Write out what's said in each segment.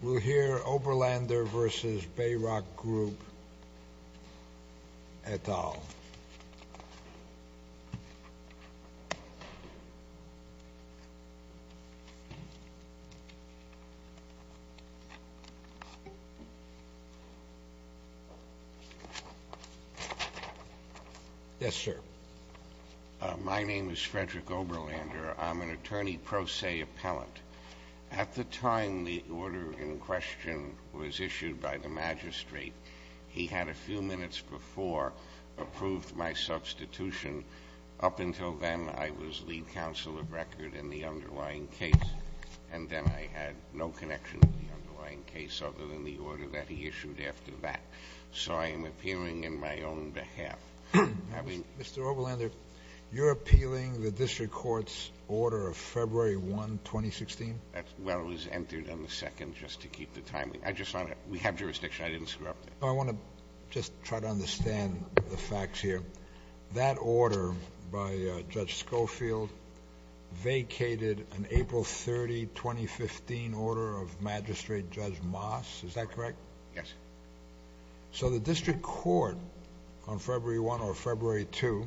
We'll hear Oberlander v. BayRock Group et al. Yes, sir. My name is Frederick Oberlander. I'm an attorney pro se appellant. At the time the order in question was issued by the magistrate, he had a few minutes before approved my substitution. Up until then, I was lead counsel of record in the underlying case, and then I had no connection to the underlying case other than the order that he issued after that. So I am appearing in my own behalf. Mr. Oberlander, you're appealing the district court's order of February 1, 2016? Well, it was entered on the 2nd just to keep the time. We have jurisdiction. I didn't screw up. I want to just try to understand the facts here. That order by Judge Schofield vacated an April 30, 2015, order of magistrate Judge Moss. Is that correct? Yes. So the district court on February 1 or February 2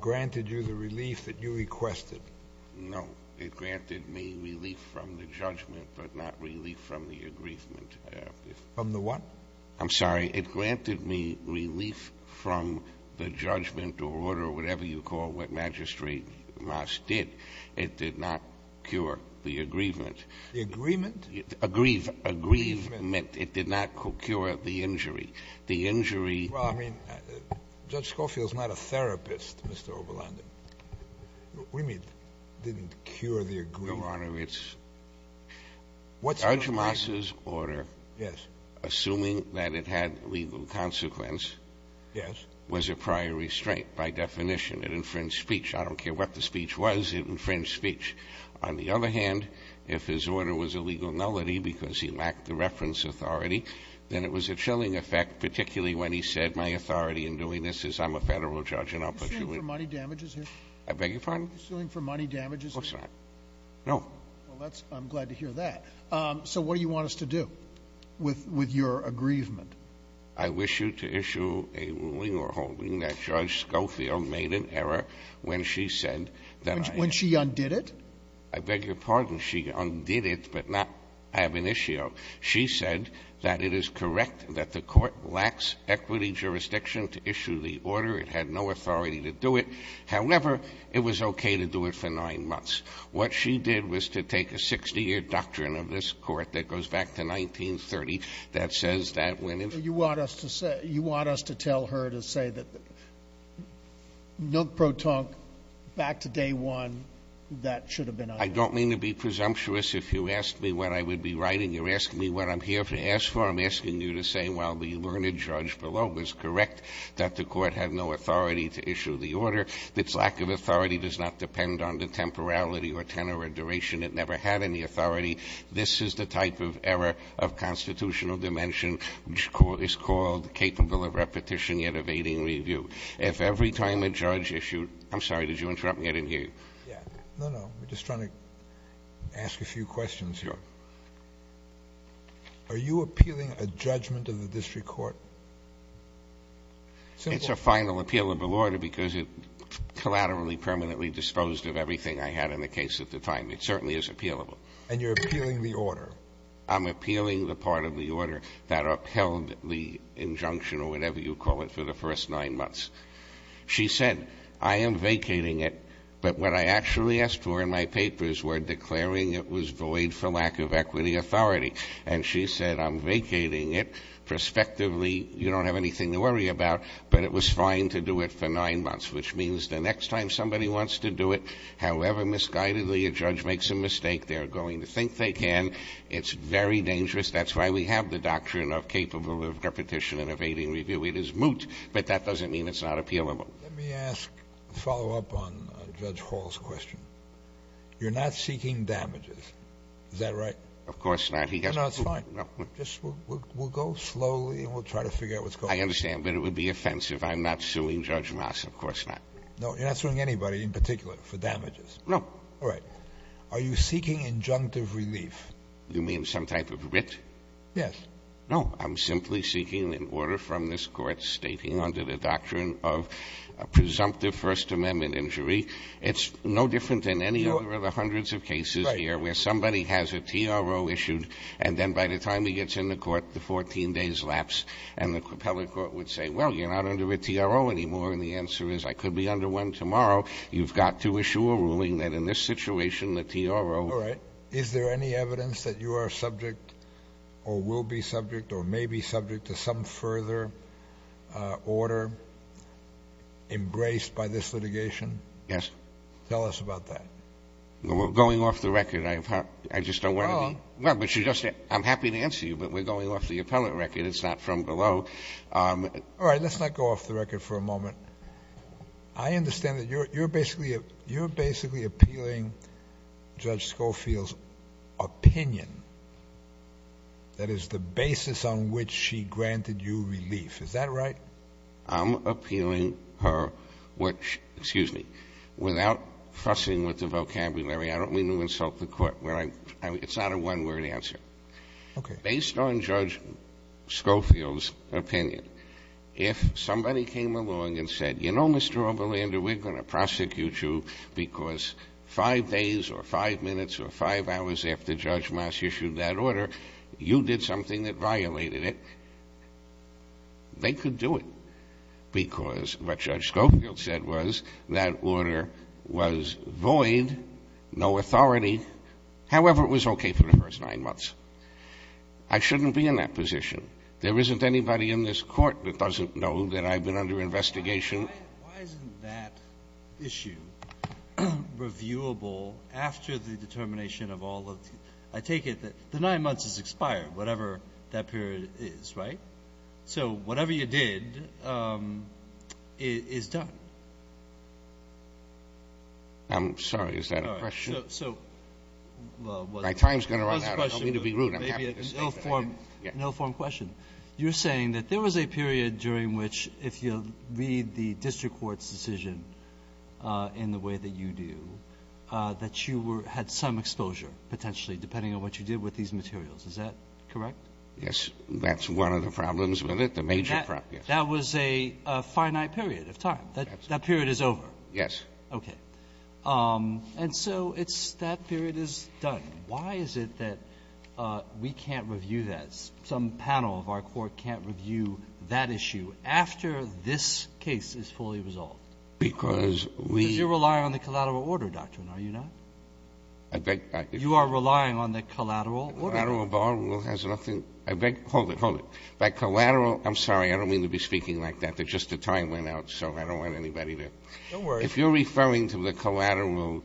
granted you the relief that you requested? No, it granted me relief from the judgment but not relief from the aggrievement. From the what? I'm sorry. It granted me relief from the judgment or order or whatever you call what magistrate Moss did. It did not cure the aggrievement. The agreement? Aggrievement. Aggrievement. It did not cure the injury. The injury. Well, I mean, Judge Schofield is not a therapist, Mr. Oberlander. We mean didn't cure the aggrievement. Your Honor, it's Judge Moss's order, assuming that it had legal consequence, was a prior restraint by definition. It infringed speech. I don't care what the speech was. It infringed speech. On the other hand, if his order was a legal nullity because he lacked the reference authority, then it was a chilling effect, particularly when he said my authority in doing this is I'm a Federal judge and I'll put you in. Are you suing for money damages here? I beg your pardon? Are you suing for money damages here? Oh, sorry. No. Well, I'm glad to hear that. So what do you want us to do with your aggrievement? I wish you to issue a ruling or holding that Judge Schofield made an error when she said When she undid it? I beg your pardon? She undid it but not have an issue. She said that it is correct that the court lacks equity jurisdiction to issue the order. It had no authority to do it. However, it was okay to do it for nine months. What she did was to take a 60-year doctrine of this court that goes back to 1930 that says that when You want us to tell her to say that no pro tonque, back to day one, that should have been undone. I don't mean to be presumptuous. If you ask me what I would be writing, you're asking me what I'm here to ask for. I'm asking you to say, well, the learned judge below was correct that the court had no authority to issue the order. Its lack of authority does not depend on the temporality or tenor or duration. It never had any authority. This is the type of error of constitutional dimension which is called capable of repetition yet evading review. If every time a judge issued, I'm sorry, did you interrupt me? I didn't hear you. No, no. I'm just trying to ask a few questions here. Are you appealing a judgment of the district court? It's a final appealable order because it collaterally permanently disposed of everything I had in the case at the time. It certainly is appealable. And you're appealing the order. I'm appealing the part of the order that upheld the injunction or whatever you call it for the first nine months. She said, I am vacating it, but what I actually asked for in my papers were declaring it was void for lack of equity authority. And she said, I'm vacating it. Perspectively, you don't have anything to worry about, but it was fine to do it for nine months, which means the next time somebody wants to do it, however misguidedly a judge makes a mistake, they're going to think they can. It's very dangerous. That's why we have the doctrine of capable of repetition and evading review. It is moot, but that doesn't mean it's not appealable. Let me ask, follow up on Judge Hall's question. You're not seeking damages. Is that right? Of course not. No, it's fine. We'll go slowly and we'll try to figure out what's going on. I understand. But it would be offensive. I'm not suing Judge Moss. Of course not. No, you're not suing anybody in particular for damages. No. All right. Are you seeking injunctive relief? You mean some type of writ? Yes. No, I'm simply seeking an order from this Court stating under the doctrine of a presumptive First Amendment injury. It's no different than any other of the hundreds of cases here where somebody has a TRO issued, and then by the time he gets in the court, the 14 days lapse, and the propeller court would say, well, you're not under a TRO anymore, and the answer is I could be under one tomorrow. You've got to issue a ruling that in this situation the TRO. All right. Is there any evidence that you are subject or will be subject or may be subject to some further order embraced by this litigation? Yes. Tell us about that. Well, going off the record, I just don't want to be. I'm happy to answer you, but we're going off the appellate record. It's not from below. All right. Let's not go off the record for a moment. I understand that you're basically appealing Judge Schofield's opinion. That is, the basis on which she granted you relief. Is that right? I'm appealing her, which, excuse me, without fussing with the vocabulary, I don't mean to insult the court. It's not a one-word answer. Okay. Based on Judge Schofield's opinion, if somebody came along and said, you know, Mr. Oberlander, we're going to prosecute you because five days or five minutes or five hours after Judge Moss issued that order, you did something that violated it, they could do it, because what Judge Schofield said was that order was void, no authority. However, it was okay for the first nine months. I shouldn't be in that position. There isn't anybody in this Court that doesn't know that I've been under investigation. Why isn't that issue reviewable after the determination of all of the – I take it the nine months has expired, whatever that period is, right? So whatever you did is done. I'm sorry. Is that a question? My time is going to run out. I don't mean to be rude. I'm happy to say that. An ill-formed question. You're saying that there was a period during which, if you'll read the district court's decision in the way that you do, that you were – had some exposure, potentially, depending on what you did with these materials. Is that correct? Yes. That's one of the problems with it, the major problem. That was a finite period of time. That period is over. Yes. Okay. And so it's – that period is done. Why is it that we can't review that? Some panel of our Court can't review that issue after this case is fully resolved? Because we – You rely on the collateral order doctrine, are you not? I beg – You are relying on the collateral order. Collateral bar rule has nothing – I beg – hold it, hold it. By collateral – I'm sorry, I don't mean to be speaking like that. Just the time went out, so I don't want anybody to – Don't worry. If you're referring to the collateral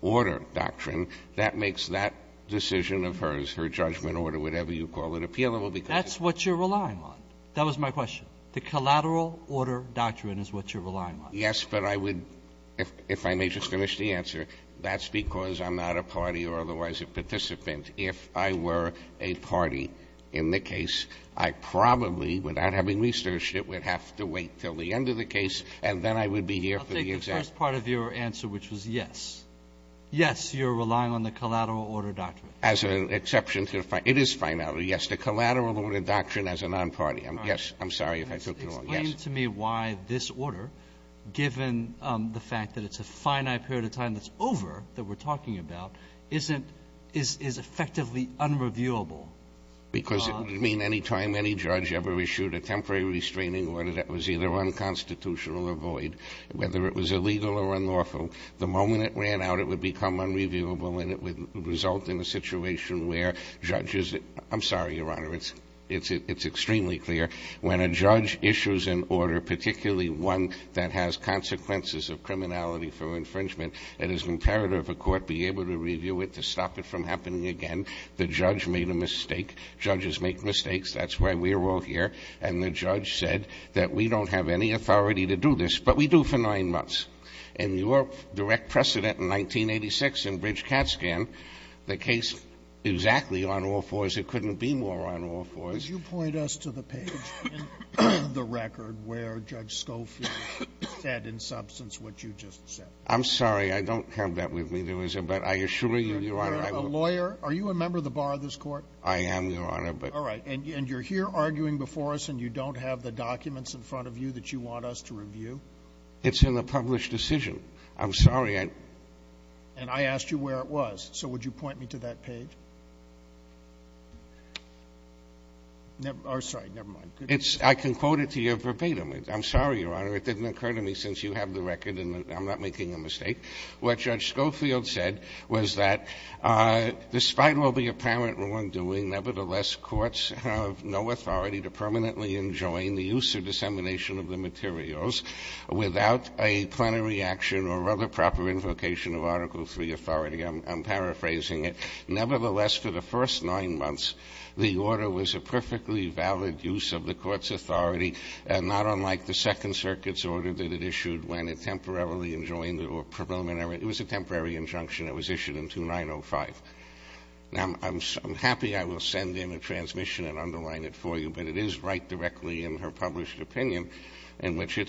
order doctrine, that makes that decision of hers, her judgment order, whatever you call it, appealable because – That's what you're relying on. That was my question. The collateral order doctrine is what you're relying on. Yes, but I would – if I may just finish the answer, that's because I'm not a party or otherwise a participant. If I were a party in the case, I probably, without having researched it, would have to wait until the end of the case, and then I would be here for the exam. I'll take the first part of your answer, which was yes. Yes, you're relying on the collateral order doctrine. As an exception to the – it is fine. Yes, the collateral order doctrine as a non-party. I'm sorry if I took too long. Yes. It's interesting to me why this order, given the fact that it's a finite period of time that's over that we're talking about, isn't – is effectively unreviewable. Because it would mean any time any judge ever issued a temporary restraining order that was either unconstitutional or void, whether it was illegal or unlawful, the moment it ran out, it would become unreviewable and it would result in a situation where judges – I'm sorry, Your Honor. It's extremely clear. When a judge issues an order, particularly one that has consequences of criminality from infringement, it is imperative a court be able to review it to stop it from happening again. The judge made a mistake. Judges make mistakes. That's why we're all here. And the judge said that we don't have any authority to do this, but we do for nine months. And your direct precedent in 1986 in Bridge Catscan, the case exactly on all fours. It couldn't be more on all fours. Could you point us to the page in the record where Judge Schofield said in substance what you just said? I'm sorry. I don't have that with me. There was a – but I assure you, Your Honor, I will – Are you a lawyer? Are you a member of the bar of this court? I am, Your Honor, but – All right. And you're here arguing before us and you don't have the documents in front of you that you want us to review? It's in the published decision. I'm sorry. And I asked you where it was. So would you point me to that page? Or, sorry, never mind. I can quote it to you verbatim. I'm sorry, Your Honor. It didn't occur to me since you have the record and I'm not making a mistake. What Judge Schofield said was that despite all the apparent wrongdoing, nevertheless, courts have no authority to permanently enjoin the use or dissemination of the materials without a plenary action or other proper invocation of Article III authority. I'm paraphrasing it. Nevertheless, for the first nine months, the order was a perfectly valid use of the court's authority, not unlike the Second Circuit's order that it issued when it temporarily enjoined or preliminary – it was a temporary injunction. It was issued in 2905. Now, I'm happy I will send in a transmission and underline it for you, but it is right at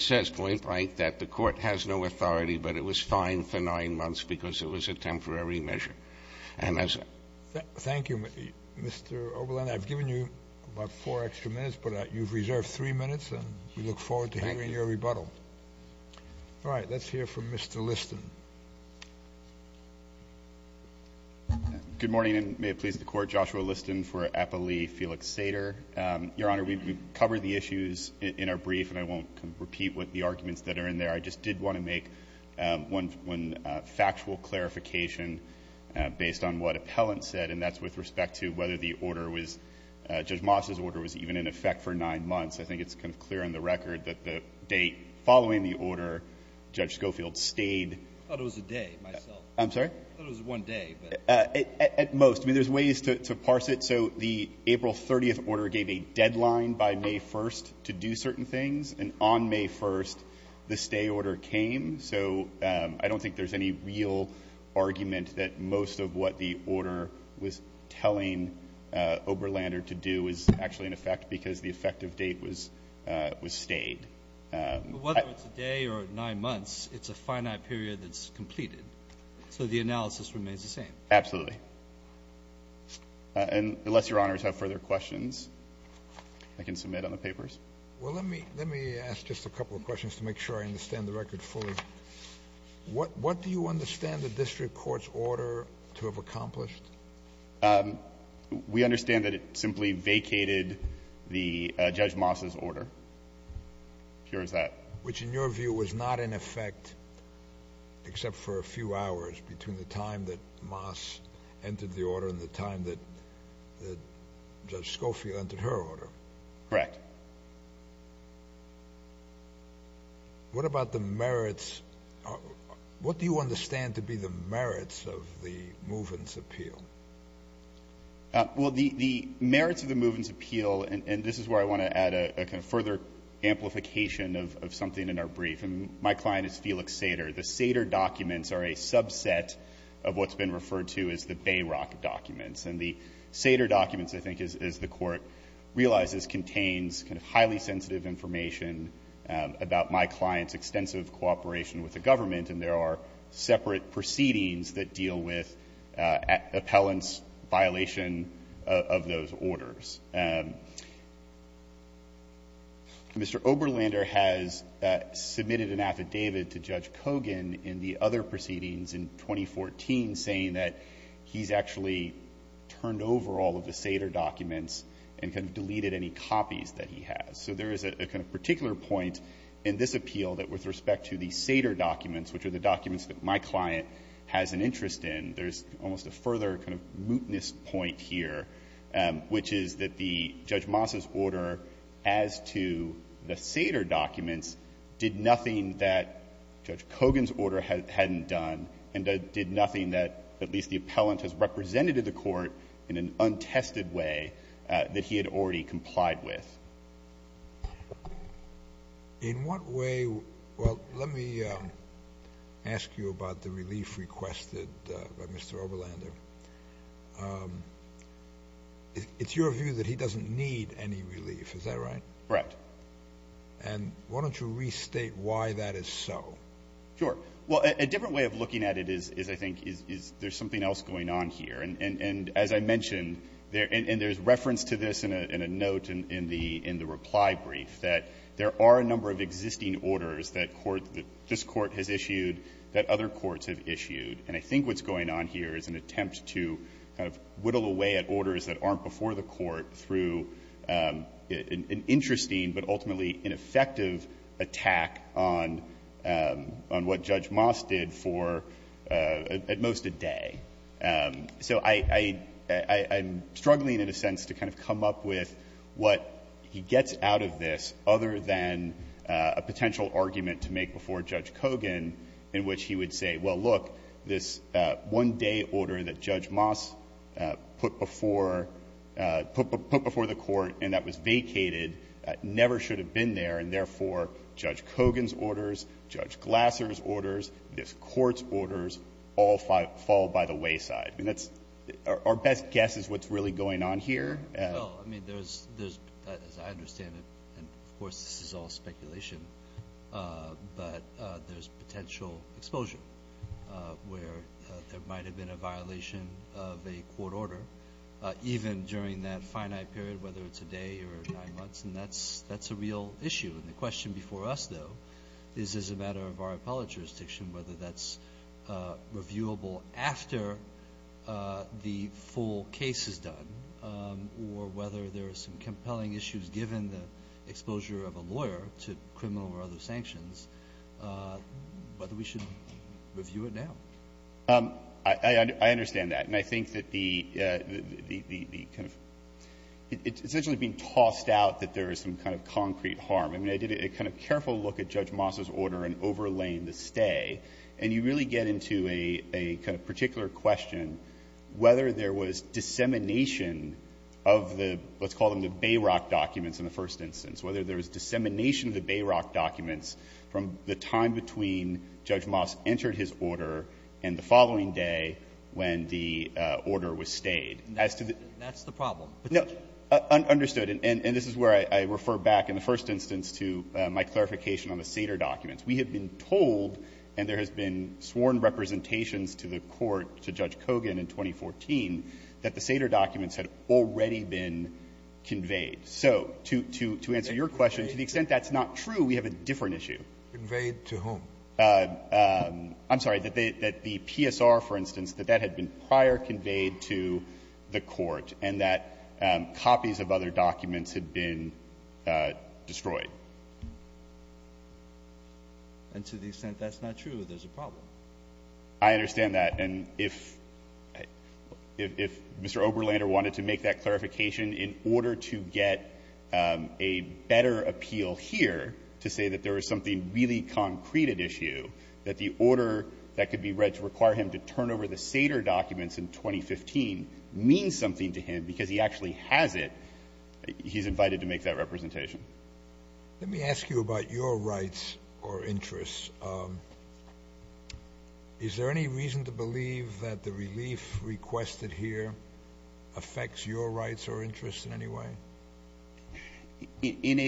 this point, right, that the court has no authority, but it was fine for nine months because it was a temporary measure. And as – Thank you, Mr. Oberlin. I've given you about four extra minutes, but you've reserved three minutes, and we look forward to hearing your rebuttal. Thank you. All right. Let's hear from Mr. Liston. Good morning, and may it please the Court. Joshua Liston for Appali Felix Sater. Your Honor, we've covered the issues in our brief, and I won't repeat what the arguments that are in there. I just did want to make one factual clarification based on what Appellant said, and that's with respect to whether the order was – Judge Moss's order was even in effect for nine months. I think it's kind of clear on the record that the date following the order, Judge Schofield stayed – I thought it was a day, myself. I'm sorry? I thought it was one day, but – At most. I mean, there's ways to parse it. So the April 30th order gave a deadline by May 1st to do certain things, and on May 1st the stay order came. So I don't think there's any real argument that most of what the order was telling Oberlander to do was actually in effect because the effective date was stayed. But whether it's a day or nine months, it's a finite period that's completed. So the analysis remains the same. Absolutely. And unless Your Honors have further questions, I can submit on the papers. Well, let me ask just a couple of questions to make sure I understand the record fully. What do you understand the district court's order to have accomplished? We understand that it simply vacated the Judge Moss's order. Pure as that. Which, in your view, was not in effect except for a few hours between the time that Moss entered the order and the time that Judge Schofield entered her order. Correct. What about the merits? What do you understand to be the merits of the Movens appeal? Well, the merits of the Movens appeal, and this is where I want to add a kind of further amplification of something in our brief. My client is Felix Sater. The Sater documents are a subset of what's been referred to as the Bayrock documents. And the Sater documents, I think, as the Court realizes, contains kind of highly sensitive information about my client's extensive cooperation with the government, and there are separate proceedings that deal with appellant's violation of those orders. Mr. Oberlander has submitted an affidavit to Judge Kogan in the other proceedings in 2014 saying that he's actually turned over all of the Sater documents and kind of deleted any copies that he has. So there is a kind of particular point in this appeal that with respect to the Sater documents, which are the documents that my client has an interest in, there's almost a further kind of mootness point here, which is that the Judge Moss's order as to the Sater documents did nothing that Judge Kogan's order hadn't done and did nothing that at least the appellant has represented to the Court in an untested way that he had already complied with. In what way — well, let me ask you about the relief requested by Mr. Oberlander. It's your view that he doesn't need any relief, is that right? Right. And why don't you restate why that is so? Sure. Well, a different way of looking at it is, I think, is there's something else going on here. And as I mentioned, and there's reference to this in a note in the reply brief, that there are a number of existing orders that this Court has issued that other than a potential argument to make before Judge Kogan in which he would say, well, look, this one-day order that Judge Kogan has issued, it's a one-day order that Judge Moss put before — put before the Court and that was vacated, never should have been there, and therefore, Judge Kogan's orders, Judge Glasser's orders, this Court's orders all fall by the wayside. I mean, that's — our best guess is what's really going on here. Well, I mean, there's — as I understand it, and of course this is all speculation, but there's potential exposure where there might have been a violation of a court order even during that finite period, whether it's a day or nine months, and that's a real issue. And the question before us, though, is as a matter of our appellate jurisdiction whether that's reviewable after the full case is done or whether there are some criminal or other sanctions, whether we should review it now. I understand that. And I think that the — the kind of — it's essentially being tossed out that there is some kind of concrete harm. I mean, I did a kind of careful look at Judge Moss's order in overlaying the stay. And you really get into a kind of particular question whether there was dissemination of the — let's call them the Bayrock documents in the first instance, whether there was dissemination of the Bayrock documents from the time between Judge Moss entered his order and the following day when the order was stayed. As to the — That's the problem. No. Understood. And this is where I refer back in the first instance to my clarification on the Sater documents. We have been told, and there has been sworn representations to the court, to Judge Kogan in 2014, that the Sater documents had already been conveyed. So to answer your question, to the extent that's not true, we have a different issue. Conveyed to whom? I'm sorry. That the PSR, for instance, that that had been prior conveyed to the court, and that copies of other documents had been destroyed. And to the extent that's not true, there's a problem. I understand that. And if Mr. Oberlander wanted to make that clarification, in order to get a better appeal here to say that there was something really concrete at issue, that the order that could be read to require him to turn over the Sater documents in 2015 means something to him because he actually has it, he's invited to make that representation. Let me ask you about your rights or interests. Is there any reason to believe that the relief requested here affects your rights or interests in any way? In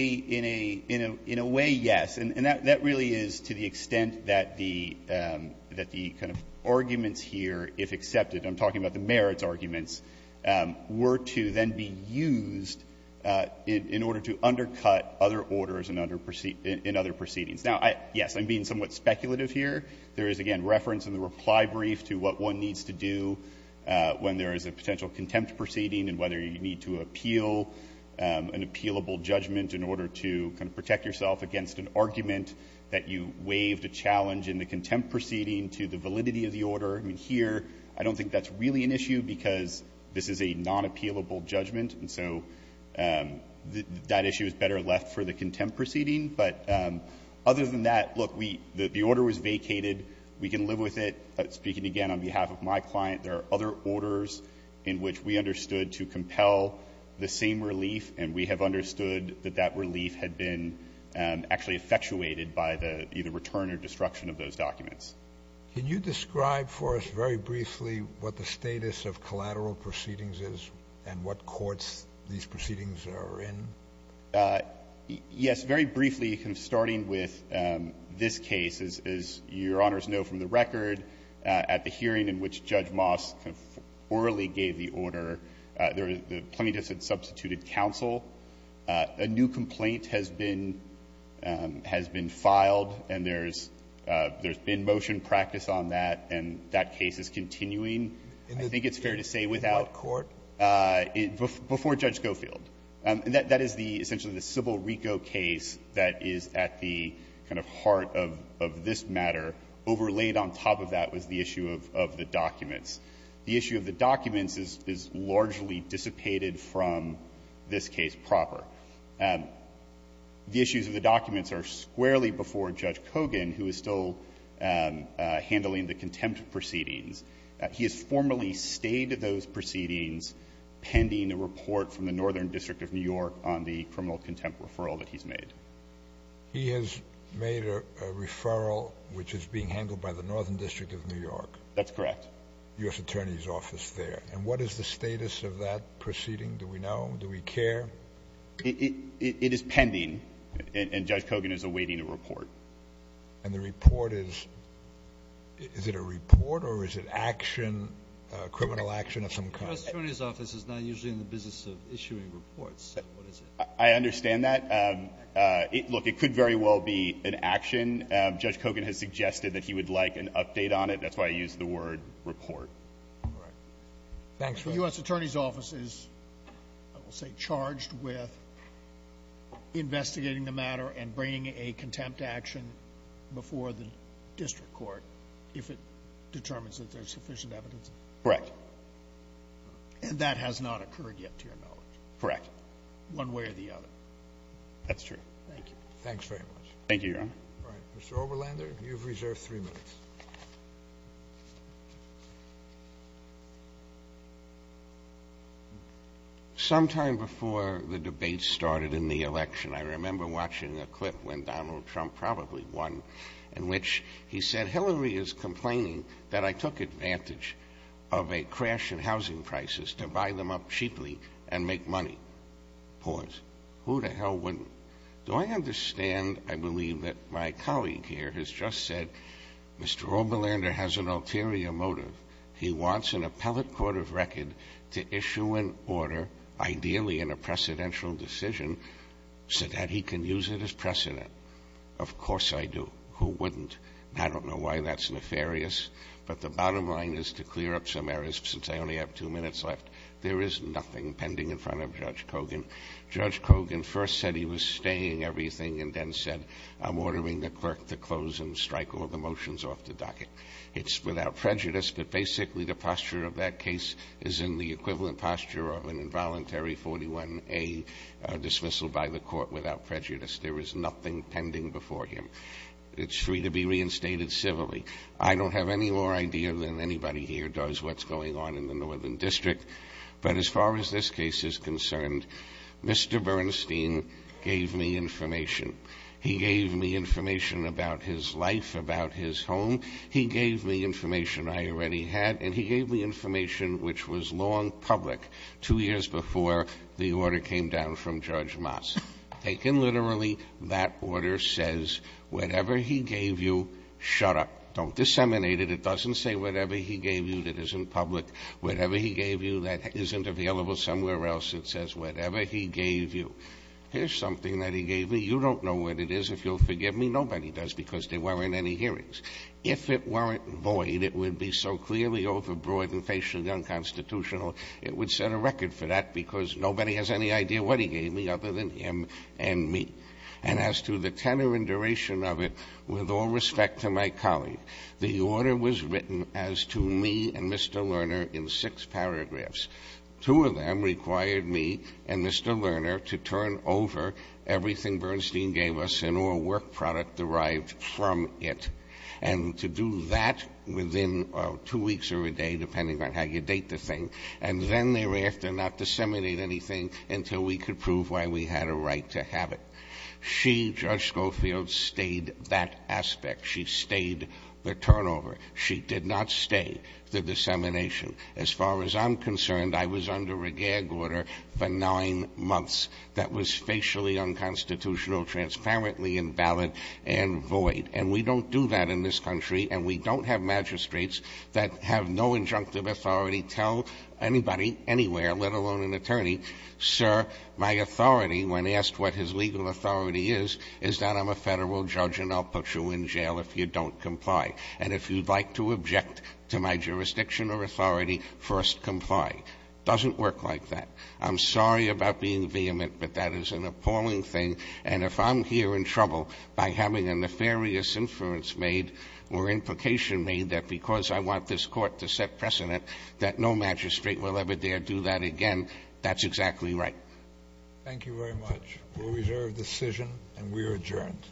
a way, yes. And that really is to the extent that the kind of arguments here, if accepted – I'm talking about the merits arguments – were to then be used in order to undercut other orders in other proceedings. Now, yes, I'm being somewhat speculative here. There is, again, reference in the reply brief to what one needs to do when there is a potential contempt proceeding and whether you need to appeal an appealable judgment in order to kind of protect yourself against an argument that you waived a challenge in the contempt proceeding to the validity of the order. I mean, here, I don't think that's really an issue because this is a non-appealable judgment, and so that issue is better left for the contempt proceeding. But other than that, look, the order was vacated. We can live with it. Speaking again on behalf of my client, there are other orders in which we understood to compel the same relief, and we have understood that that relief had been actually effectuated by the either return or destruction of those documents. Can you describe for us very briefly what the status of collateral proceedings is and what courts these proceedings are in? Yes. Very briefly, starting with this case, as Your Honors know from the record, at the hearing in which Judge Moss orally gave the order, the plaintiffs had substituted counsel. A new complaint has been filed, and there's been motion practice on that, and that case is continuing, I think it's fair to say, without court, before Judge Gofield. And that is the essentially the Civil RICO case that is at the kind of heart of this matter. Overlaid on top of that was the issue of the documents. The issue of the documents is largely dissipated from this case proper. The issues of the documents are squarely before Judge Kogan, who is still handling the contempt proceedings. He has formally stayed to those proceedings pending a report from the Northern District of New York on the criminal contempt referral that he's made. He has made a referral which is being handled by the Northern District of New York. That's correct. U.S. Attorney's Office there. And what is the status of that proceeding? Do we know? Do we care? It is pending, and Judge Kogan is awaiting a report. And the report is – is it a report or is it action, criminal action of some kind? The U.S. Attorney's Office is not usually in the business of issuing reports. What is it? I understand that. Look, it could very well be an action. Judge Kogan has suggested that he would like an update on it. That's why I used the word report. All right. Thanks, Judge. The U.S. Attorney's Office is, I will say, charged with investigating the matter and bringing a contempt action before the district court if it determines that there's sufficient evidence. Correct. And that has not occurred yet, to your knowledge? Correct. One way or the other? That's true. Thank you. Thanks very much. Thank you, Your Honor. All right. Mr. Oberlander, you've reserved three minutes. Sometime before the debate started in the election, I remember watching the clip when Donald Trump probably won, in which he said, Hillary is complaining that I took advantage of a crash in housing prices to buy them up cheaply and make money. Pause. Who the hell wouldn't? Do I understand, I believe, that my colleague here has just said, Mr. Oberlander has an ulterior motive. He wants an appellate court of record to issue an order, ideally in a precedential decision, so that he can use it as precedent. Of course I do. Who wouldn't? I don't know why that's nefarious, but the bottom line is to clear up some errors, since I only have two minutes left. There is nothing pending in front of Judge Kogan. Judge Kogan first said he was staying everything and then said, I'm ordering the clerk to close and strike all the motions off the docket. It's without prejudice, but basically the posture of that case is in the equivalent posture of an involuntary 41A dismissal by the court without prejudice. There is nothing pending before him. It's free to be reinstated civilly. I don't have any more idea than anybody here does what's going on in the Northern District, but as far as this case is concerned, Mr. Bernstein gave me information. He gave me information about his life, about his home. He gave me information I already had, and he gave me information which was long before public, two years before the order came down from Judge Moss. Taken literally, that order says whatever he gave you, shut up. Don't disseminate it. It doesn't say whatever he gave you that isn't public. Whatever he gave you that isn't available somewhere else, it says whatever he gave you. Here's something that he gave me. You don't know what it is, if you'll forgive me. Nobody does, because there weren't any hearings. If it weren't void, it would be so clearly overbroad and facially unconstitutional, it would set a record for that, because nobody has any idea what he gave me other than him and me. And as to the tenor and duration of it, with all respect to my colleague, the order was written as to me and Mr. Lerner in six paragraphs. Two of them required me and Mr. Lerner to turn over everything Bernstein gave us and to turn over all of our work product derived from it. And to do that within two weeks or a day, depending on how you date the thing, and then thereafter not disseminate anything until we could prove why we had a right to have it. She, Judge Schofield, stayed that aspect. She stayed the turnover. She did not stay the dissemination. As far as I'm concerned, I was under a gag order for nine months that was facially unconstitutional, transparently invalid, and void. And we don't do that in this country, and we don't have magistrates that have no injunctive authority tell anybody anywhere, let alone an attorney, sir, my authority when asked what his legal authority is, is that I'm a federal judge and I'll put you in jail if you don't comply. And if you'd like to object to my jurisdiction or authority, first comply. Doesn't work like that. I'm sorry about being vehement, but that is an appalling thing. And if I'm here in trouble by having a nefarious inference made or implication made that because I want this Court to set precedent that no magistrate will ever dare do that again, that's exactly right. Thank you very much. We'll reserve decision, and we are adjourned.